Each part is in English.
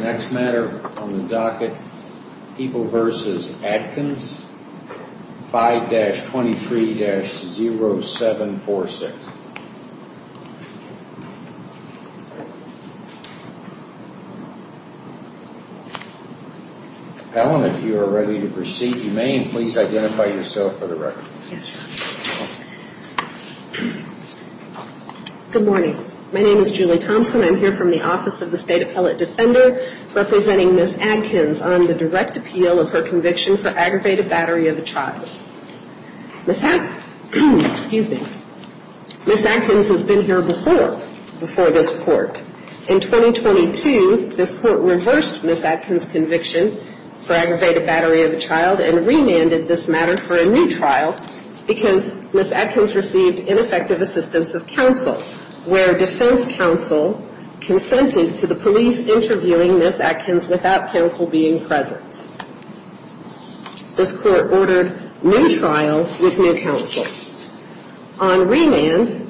Next matter on the docket, People v. Adkins, 5-23-0746. Helen, if you are ready to proceed, you may, and please identify yourself for the record. Good morning. My name is Julie Thompson. I'm here from the Office of the State Appellate Defender representing Ms. Adkins on the direct appeal of her conviction for aggravated battery of a child. Ms. Adkins has been here before, before this court. In 2022, this court reversed Ms. Adkins' conviction for aggravated battery of a child and remanded this matter for a new trial because Ms. Adkins received ineffective assistance of counsel, where defense counsel consented to the police interviewing Ms. Adkins without counsel being present. This court ordered new trial with new counsel. On remand,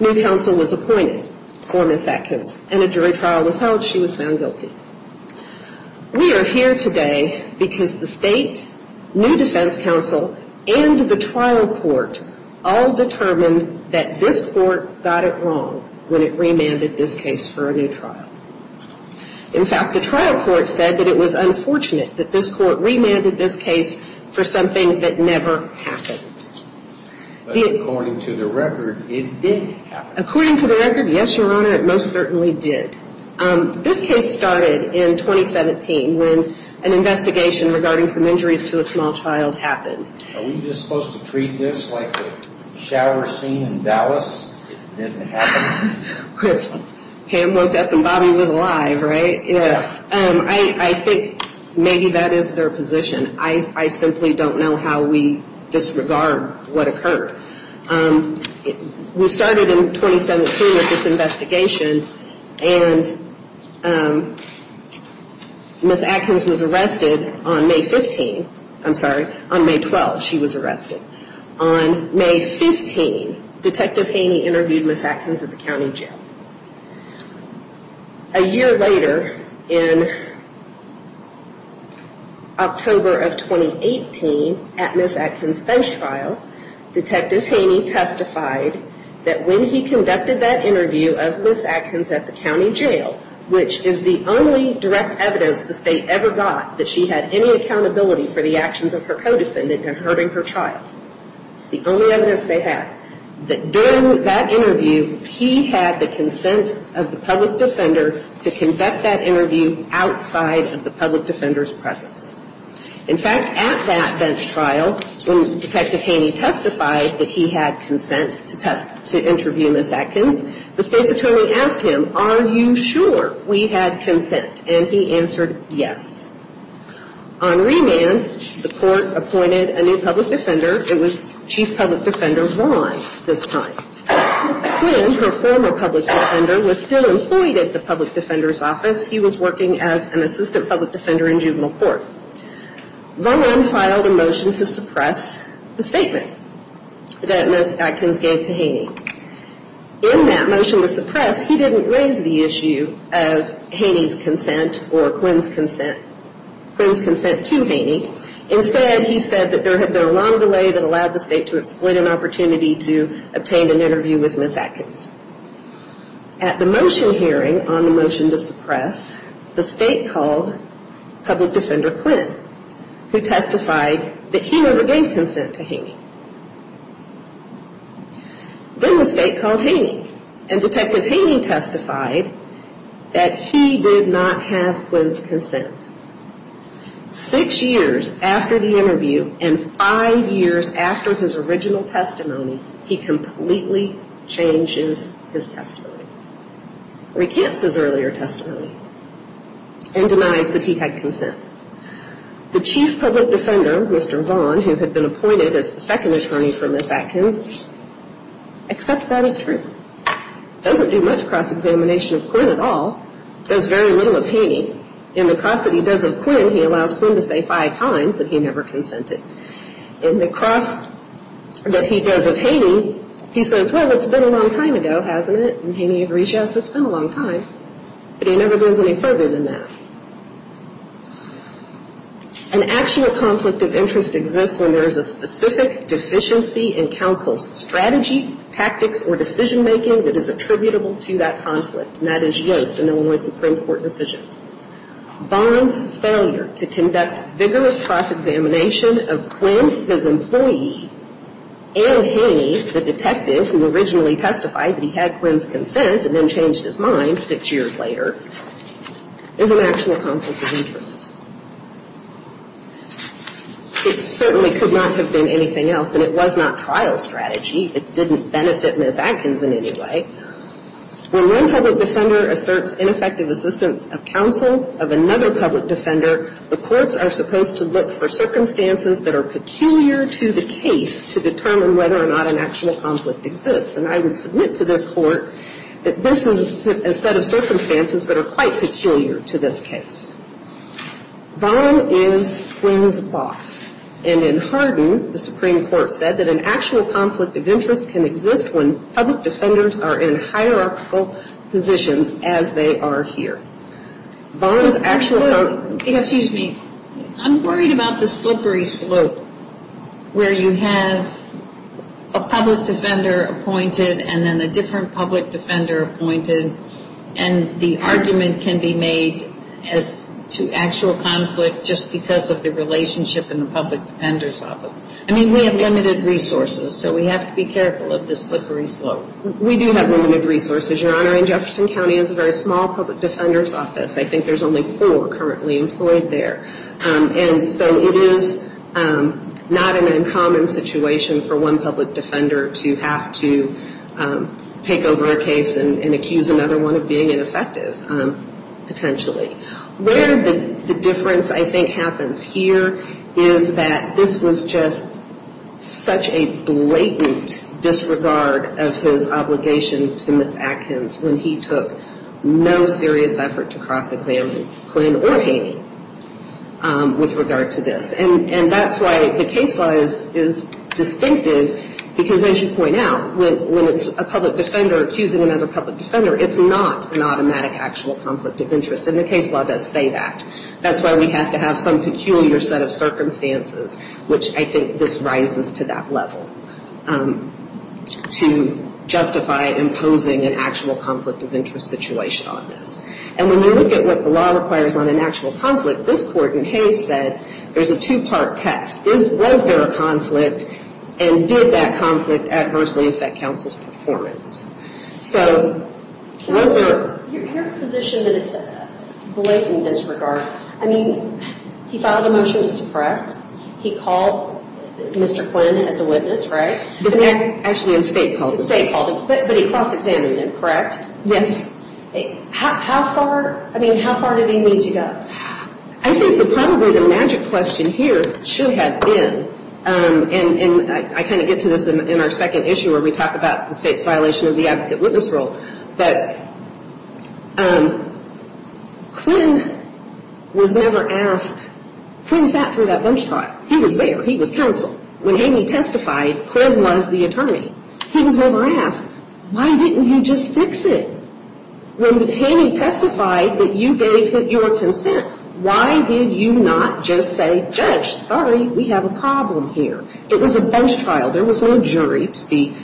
new counsel was appointed for Ms. Adkins, and a jury trial was held. She was found guilty. We are here today because the defense counsel and the trial court all determined that this court got it wrong when it remanded this case for a new trial. In fact, the trial court said that it was unfortunate that this court remanded this case for something that never happened. But according to the record, it did happen. According to the record, yes, Your Honor, it most certainly did. This case started in Are we just supposed to treat this like a shower scene in Dallas? It didn't happen? Pam woke up and Bobby was alive, right? Yes. I think maybe that is their position. I simply don't know how we disregard what occurred. We started in 2017 with this investigation, and Ms. Adkins was arrested on May 15. I'm sorry, on May 12 she was arrested. On May 15, Detective Haney interviewed Ms. Adkins at the county jail. A year later, in October of 2018 at Ms. Adkins' bench trial, Detective Haney testified that when he conducted that interview outside of the public defender's presence. In fact, at that bench trial, when Detective Haney testified that he had consent to interview Ms. Adkins, the State's attorney asked him if Ms. Adkins had any accountability for the actions of her co-defendant and her being her trial. It's the only evidence they had. During that interview, he had the consent of the public defender to conduct that interview outside of the public defender's presence. He asked him, are you sure we had consent? And he answered yes. On remand, the court appointed a new public defender. It was Chief Public Defender Vaughn this time. When her former public defender was still employed at the public defender's office, he was working as an assistant public defender in juvenile court. Vaughn filed a motion to suppress the statement that Ms. Adkins gave to Haney. In that motion to suppress, he didn't raise the issue of Haney's consent or Quinn's consent, Quinn's consent to Haney. Instead, he said that there had been a long delay that allowed the State to exploit an opportunity to obtain an interview with Ms. Adkins. At the motion hearing on the motion to suppress, the State called public defender Quinn, who testified that he never gave consent to Haney. Then the State called Haney, and Detective Haney testified that he did not have Quinn's consent. Six years after the interview and five years after his original testimony, he completely changes his testimony, recants his earlier testimony, and denies that he had consent. The Chief Public Defender, Mr. Vaughn, who had been appointed as the second attorney for Ms. Adkins, accepts that as true. Doesn't do much cross- examination of Quinn at all. Does very little of Haney. In the cross that he does of Quinn, he allows Quinn to say five times that he never consented. In the cross that he does of Haney, he says, well, it's been a long time, but he never goes any further than that. An actual conflict of interest exists when there is a specific deficiency in counsel's strategy, tactics, or decision-making that is attributable to that conflict, and that is Yoast, an Illinois Supreme Court decision. Vaughn's failure to conduct vigorous cross-examination of Quinn, his employee, and Haney, the detective who originally testified that he had consent, is an actual conflict of interest. It certainly could not have been anything else, and it was not trial strategy. It didn't benefit Ms. Adkins in any way. When one public defender asserts ineffective assistance of counsel of another public defender, the courts are supposed to look for circumstances that are peculiar to the case to determine whether or not an actual conflict exists. And I would submit to this court that this is a set of circumstances that are quite peculiar to this case. Vaughn is Quinn's boss, and in Hardin, the Supreme Court said that an actual conflict of interest can exist when public defenders are in hierarchical positions as they are here. Vaughn's actual... Excuse me. I'm worried about the slippery slope where you have a public defender appointed and then a different public defender appointed, and the argument can be made as to actual conflict just because of the relationship in the public defender's office. I mean, we have limited resources, so we have to be careful of the slippery slope. We do have limited resources, Your Honor, and Jefferson County has a very small public defender's office. I think there's only four currently employed there. And so it is not an uncommon situation for one public defender to have to take over the case and accuse another one of being ineffective, potentially. Where the difference, I think, happens here is that this was just such a blatant disregard of his obligation to Ms. Atkins when he took no serious effort to cross-examine Quinn or Haney with regard to this. And that's why the case law is distinctive because, as you point out, when it's a public defender accusing another public defender, it's not an automatic actual conflict of interest. And the case law does say that. That's why we have to have some peculiar set of circumstances, which I think this rises to that level, to justify imposing an actual conflict of interest situation on this. And when you look at what the law requires on an actual conflict, this Court in Hays said there's a two-part test. Was there a conflict, and did that conflict adversely affect counsel's performance? So I think there's a lot of conflicts. So was there... Your position that it's a blatant disregard, I mean, he filed a motion to suppress. He called Mr. Quinn as a witness, right? Actually, the State called him. The State called him, but he cross-examined him, correct? Yes. How far, I mean, how far did he need to go? I think that probably the magic question here should have been, and I kind of get to this in our second issue where we talk about the State's violation of the advocate witness role, that Quinn was never asked... Quinn sat through that bench trial. He was there. He was counsel. When Haney testified, Quinn was the attorney. He was never asked, why didn't you just fix it? When Haney testified that you gave your consent, why did you not just say, judge, sorry, we have a problem here? It was a bench trial. There was no jury to be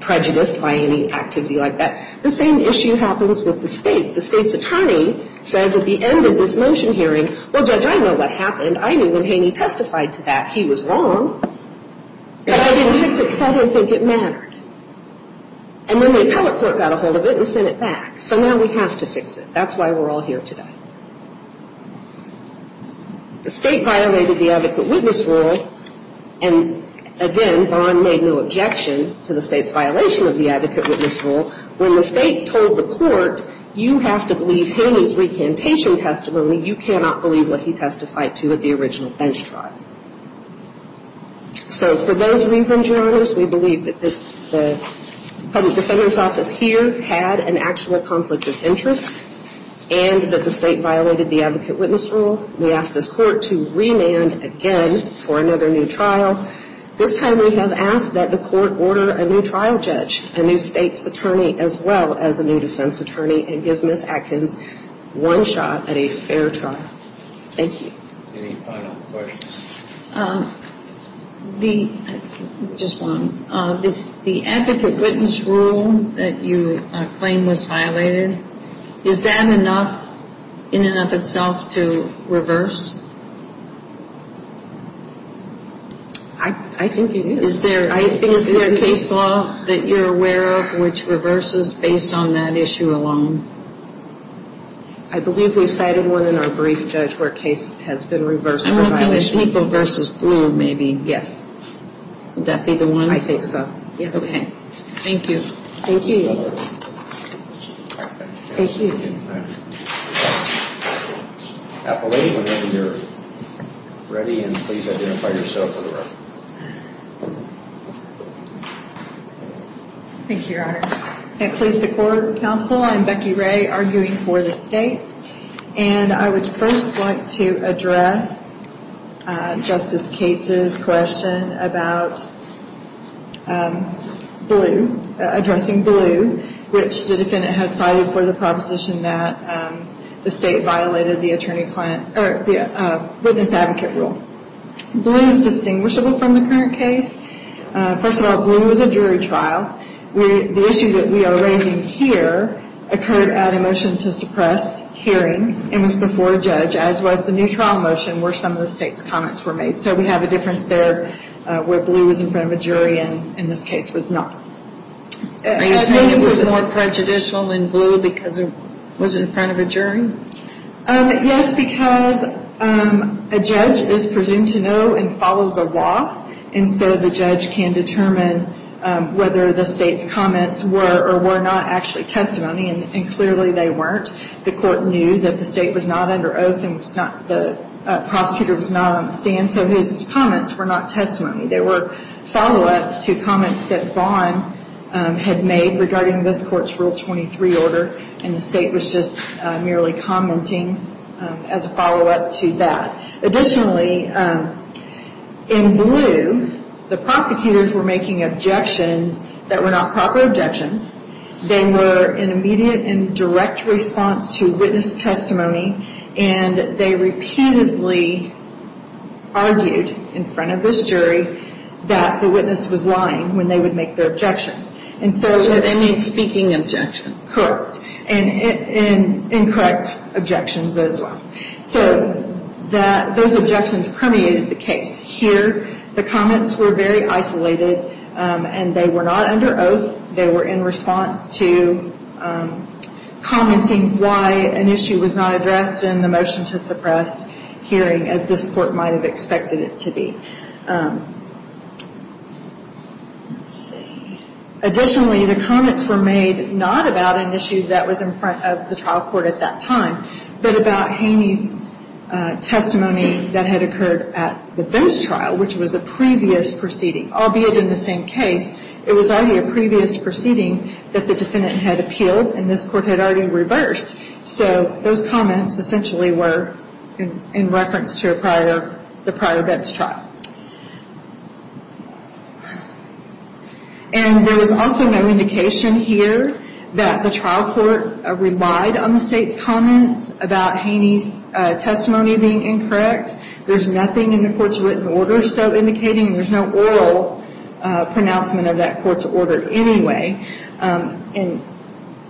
prejudiced by any activity like that. The same issue happens with the State. The State's attorney says at the end of this motion hearing, well, judge, I know what happened. I knew when Haney testified to that, he was wrong, but I didn't fix it because I didn't think it mattered. And then the appellate court got a hold of it and sent it back. So now we have to fix it. That's why we're all here today. The State violated the advocate witness role, and again, Vaughn made no objection to the State's violation of the advocate witness role. When the State told the court, you have to believe Haney's recantation testimony, you cannot believe what he testified to at the original bench trial. So for those reasons, Your Honors, we believe that the public defender's office here had an actual conflict of interest and that the State violated the advocate witness role. We ask this Court to remand again for another new trial. This time we have asked that the Court order a new trial judge, a new State's attorney, as well as a new defense attorney, and give Ms. Atkins one shot at a fair trial. Thank you. Any final questions? Is the advocate witness role that you claim was violated, is that enough in and of itself to reverse? I think it is. Is there a case law that you're aware of which reverses based on that issue alone? I believe we've cited one in our brief, Judge, where a case has been reversed for violation. I'm hoping it's people versus glue, maybe. Yes. Would that be the one? I think so. Okay. Thank you. Appellate, whenever you're ready, and please identify yourself for the record. Thank you, Your Honors. At Police Accord Council, I'm Becky Ray, arguing for the State, and I would first like to address Justice Cates' question about Blue, addressing Blue, which the defendant has cited for the proposition that the State violated the witness advocate rule. Blue is distinguishable from the current case. First of all, Blue was a jury trial. The issue that we are raising here occurred at a motion to suppress hearing, and was before a judge, as was the new trial motion, where some of the State's comments were made. So we have a difference there where Blue was in front of a jury, and in this case was not. Are you saying it was more prejudicial than Blue because it was in front of a jury? Yes, because a judge is presumed to know and follow the law, and so the judge can determine whether the State's comments were or were not actually testimony, and clearly they weren't. The Court knew that the State was not under oath, and the prosecutor was not on the stand, so his comments were not testimony. They were follow-up to comments that Vaughn had made regarding this Court's Rule 23 order, and the State was just merely commenting as a follow-up to that. Additionally, in Blue, the prosecutors were making objections that were not proper objections. They were in immediate and direct response to witness testimony, and they repeatedly argued in front of this jury that the witness was lying when they would make their objections. So they made speaking objections? Correct, and incorrect objections as well. So those objections permeated the case. Here, the comments were very isolated, and they were not under oath. They were in response to commenting why an issue was not addressed in the motion to suppress hearing as this Court might have expected it to be. Additionally, the comments were made not about an issue that was in front of the trial court at that time, but about Haney's testimony that had occurred at the first trial, which was a previous proceeding. Albeit in the same case, it was already a previous proceeding that the defendant had appealed, and this Court had already reversed. So those comments essentially were in reference to a prior bench trial. And there was also no indication here that the trial court relied on the State's comments about Haney's testimony being incorrect. There's nothing in the Court's written order so indicating there's no oral pronouncement of that Court's order anyway. And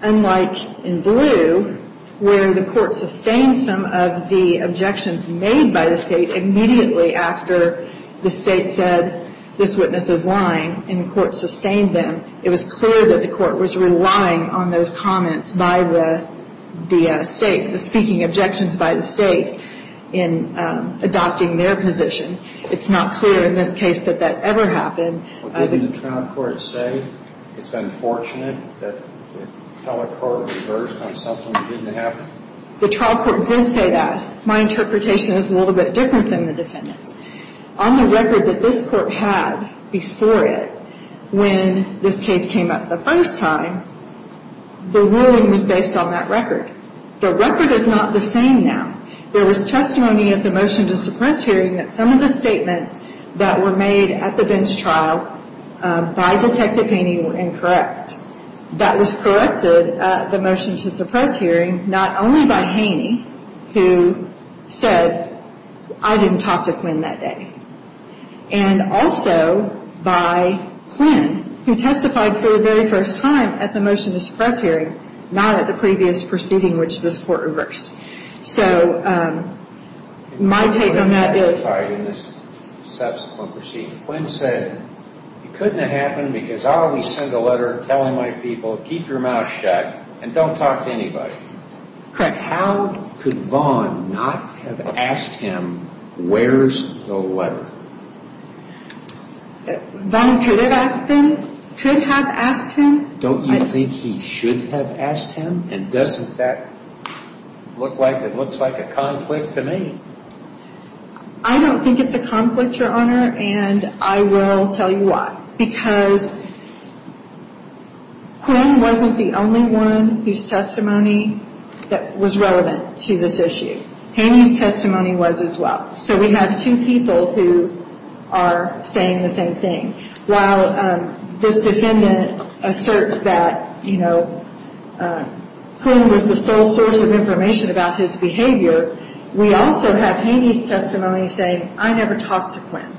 unlike in Blue, where the Court sustained some of the objections made by the State immediately after the State said this witness is lying, and the Court sustained them, it was clear that the Court was relying on those comments by the State, the speaking objections by the State in adopting their position. It's not clear in this case that that ever happened. But didn't the trial court say it's unfortunate that the telecourt reversed on something that didn't happen? The trial court did say that. My interpretation is a little bit different than the defendant's. On the record that this Court had before it, when this case came up the first time, the ruling was based on that record. The record is not the same now. There was testimony at the motion to suppress hearing that some of the statements that were made at the bench trial by Detective Haney were incorrect. That was corrected at the motion to suppress hearing, not only by Haney, who said, I didn't talk to Quinn that day, and also by Quinn, who testified for the very first time at the motion to suppress hearing, not at the previous proceeding which this Court reversed. My take on that is... Quinn said, it couldn't have happened because I always send a letter telling my people, keep your mouth shut, and don't talk to anybody. How could Vaughn not have asked him, where's the letter? Vaughn could have asked him. Don't you think he should have asked him? And doesn't that look like a conflict to me? I don't think it's a conflict, Your Honor, and I will tell you why. Because Quinn wasn't the only one whose testimony that was relevant to this issue. Haney's testimony was as well. So we have two people who are saying the same thing. While this defendant asserts that Quinn was the sole source of information about his behavior, we also have Haney's testimony saying, I never talked to Quinn.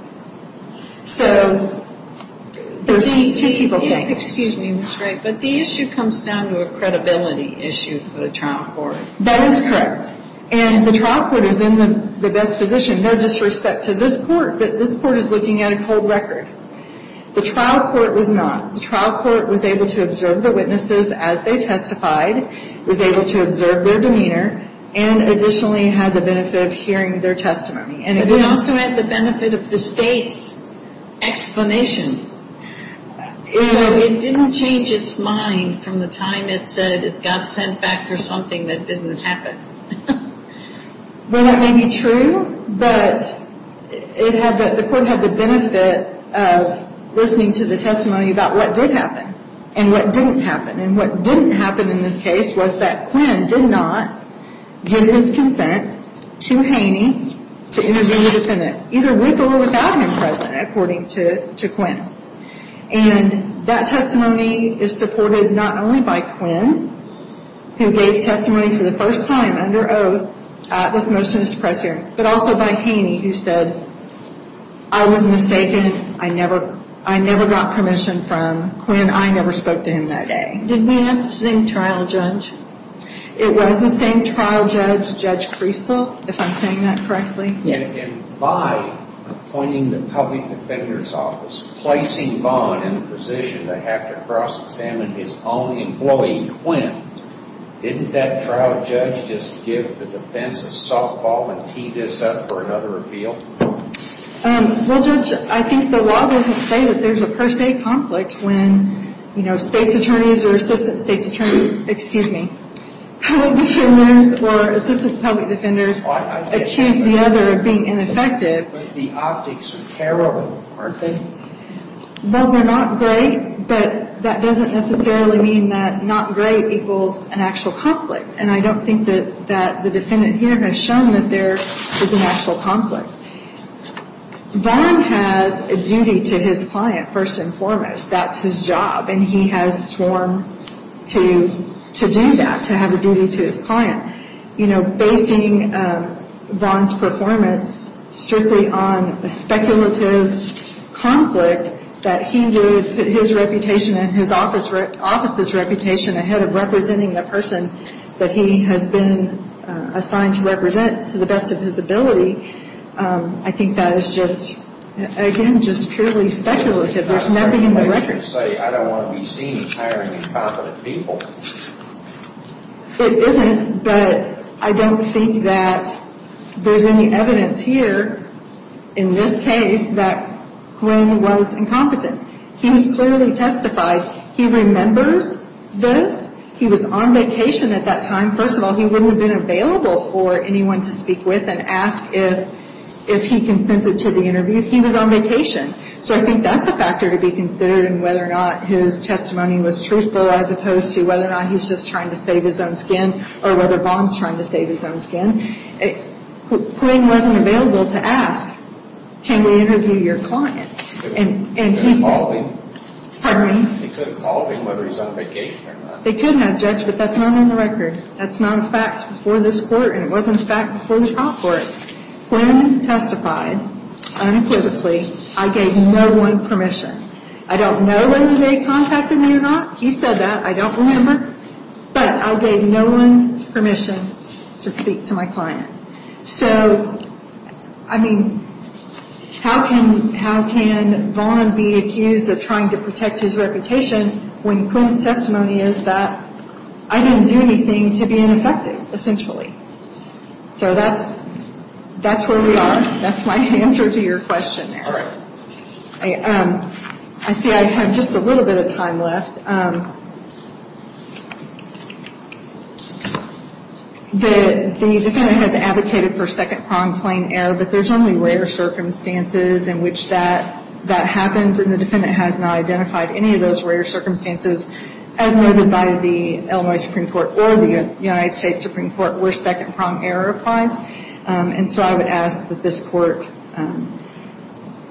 So there's two people saying... Excuse me, Ms. Drake, but the issue comes down to a credibility issue for the trial court. That is correct. And the trial court is in the best position. No disrespect to this Court, but this Court is looking at a cold record. The trial court was not. able to observe the witnesses as they testified, was able to observe their demeanor, and additionally had the benefit of hearing their testimony. But it also had the benefit of the State's explanation. So it didn't change its mind from the time it said it got sent back for something that didn't happen. Well, that may be true, but the Court had the benefit of listening to the testimony about what did happen and what didn't happen. And what didn't happen in this case was that Quinn did not give his consent to Haney to intervene with the defendant, either with or without him present, according to Quinn. And that testimony is supported not only by Quinn, who gave testimony for the first time under oath at this motionous press hearing, but also by Haney, who said, I was mistaken. I never got permission from Quinn. I never spoke to him that day. Did we have the same trial judge? It was the same trial judge, Judge Priestle, if I'm saying that correctly. And by appointing the public defender's office, placing Vaughn in a position to have to cross-examine his own employee Quinn, didn't that trial judge just give the defense a softball and tee this up for another appeal? Well, Judge, I think the law doesn't say that there's a per se conflict when, you know, State's attorneys or assistant State's attorneys, excuse me, public defenders or assistant public defenders accuse the other of being ineffective. But the optics are terrible, aren't they? Well, they're not great, but that doesn't necessarily mean that not great equals an actual conflict. And I don't think that the defendant here has shown that there is an actual conflict. Vaughn has a duty to his client, first and foremost. That's his job. And he has sworn to do that, to have a duty to his client. You know, basing Vaughn's performance strictly on a speculative conflict that he did his reputation and his office's reputation ahead of representing the person that he has been assigned to represent to the best of his ability, I think that is just, again, just purely speculative. There's nothing in the record. I don't want to be seen as hiring incompetent people. It isn't, but I don't think that there's any evidence here, in this case, that Quinn was incompetent. He was clearly testified. He remembers this. He was on vacation at that time. First of all, he wouldn't have been available for anyone to speak with and ask if he consented to the interview. He was on vacation. So I think that's a factor to be considered in whether or not his testimony was truthful, as opposed to whether or not he's just trying to save his own skin, or whether Vaughn's trying to save his own skin. Quinn wasn't available to ask, can we interview your client? They could have called him, whether he's on vacation or not. They could have, Judge, but that's not on the record. That's not a fact before this Court, and it wasn't a fact before the trial court. Quinn testified unequivocally. I gave no one permission. I don't know whether they contacted me or not. He said that. I don't remember. But I gave no one permission to speak to my client. So, I mean, how can Vaughn be accused of trying to protect his reputation when Quinn's testimony is that I didn't do anything to be ineffective, essentially. So that's where we are. That's my answer to your question there. I see I have just a little bit of time left. The defendant has advocated for second pronged plain error, but there's only rare circumstances in which that happens, and the defendant has not identified any of those rare circumstances as noted by the Illinois Supreme Court or the United States Supreme Court where second pronged error applies. And so I would ask that this Court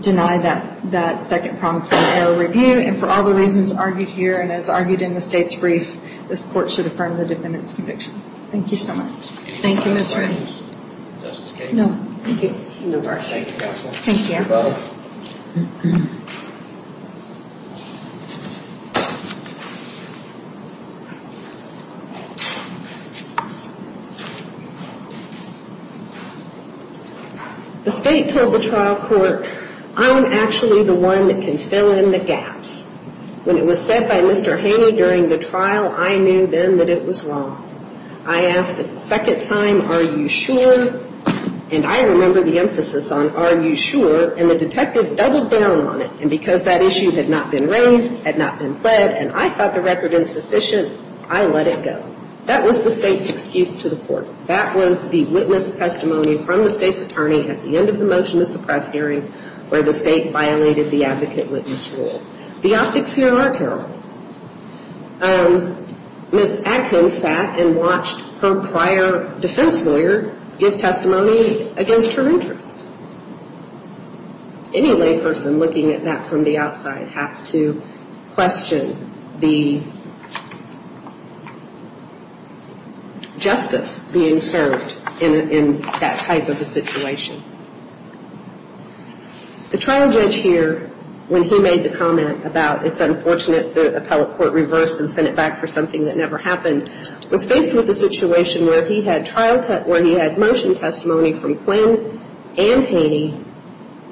deny that second pronged plain error review, and for all the reasons argued here and as argued in the State's brief, this Court should affirm the defendant's conviction. Thank you so much. Thank you, Ms. Ray. Thank you. Thank you, Counsel. Thank you. You're welcome. The State told the trial court, I'm actually the one that can fill in the gaps. When it was said by Mr. Haney during the trial, I knew then that it was wrong. I asked a second time, are you sure, and I remember the emphasis on are you sure, and the detective doubled down on it, and because that issue had not been raised, had not been pled, and I thought the record insufficient, I let it go. That was the State's excuse to the Court. That was the witness testimony from the State's attorney at the end of the motion to suppress hearing where the State violated the advocate witness rule. The optics here are terrible. Ms. Adkins sat and watched her prior defense lawyer give testimony against her interest. Any layperson looking at that from the outside has to question the justice being served in that type of a situation. The trial judge here, when he made the comment about it's unfortunate the appellate court reversed and sent it back for something that never happened, and Haney,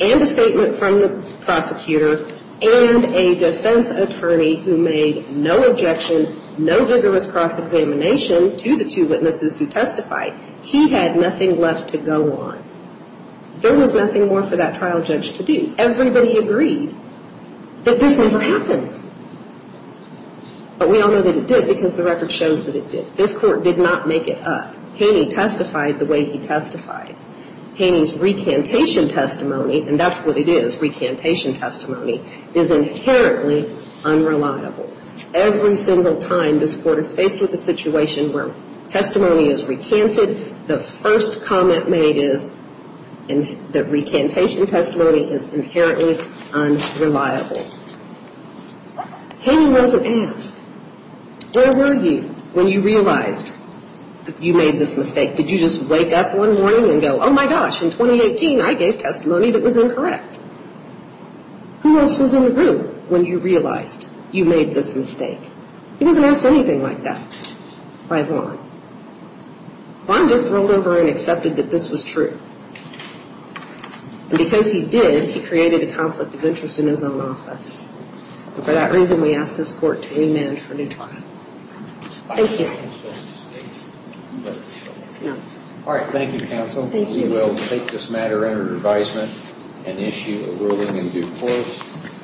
and a statement from the prosecutor, and a defense attorney who made no objection, no vigorous cross-examination to the two witnesses who testified. He had nothing left to go on. There was nothing more for that trial judge to do. Everybody agreed that this never happened, but we all know that it did because the record shows that it did. This court did not make it up. Haney testified the way he testified. Haney's recantation testimony, and that's what it is, recantation testimony, is inherently unreliable. Every single time this Court is faced with a situation where testimony is recanted, the first comment made is that recantation testimony is inherently unreliable. Haney wasn't asked, where were you when you realized you made this mistake? Did you just wake up one morning and go, oh my gosh, in 2018 I gave testimony that was incorrect. Who else was in the room when you realized you made this mistake? He wasn't asked anything like that by Vaughn. Vaughn just rolled over and accepted that this was true. And because he did, he created a conflict of interest in his own office. And for that reason, we ask this Court to amend for a new trial. Thank you.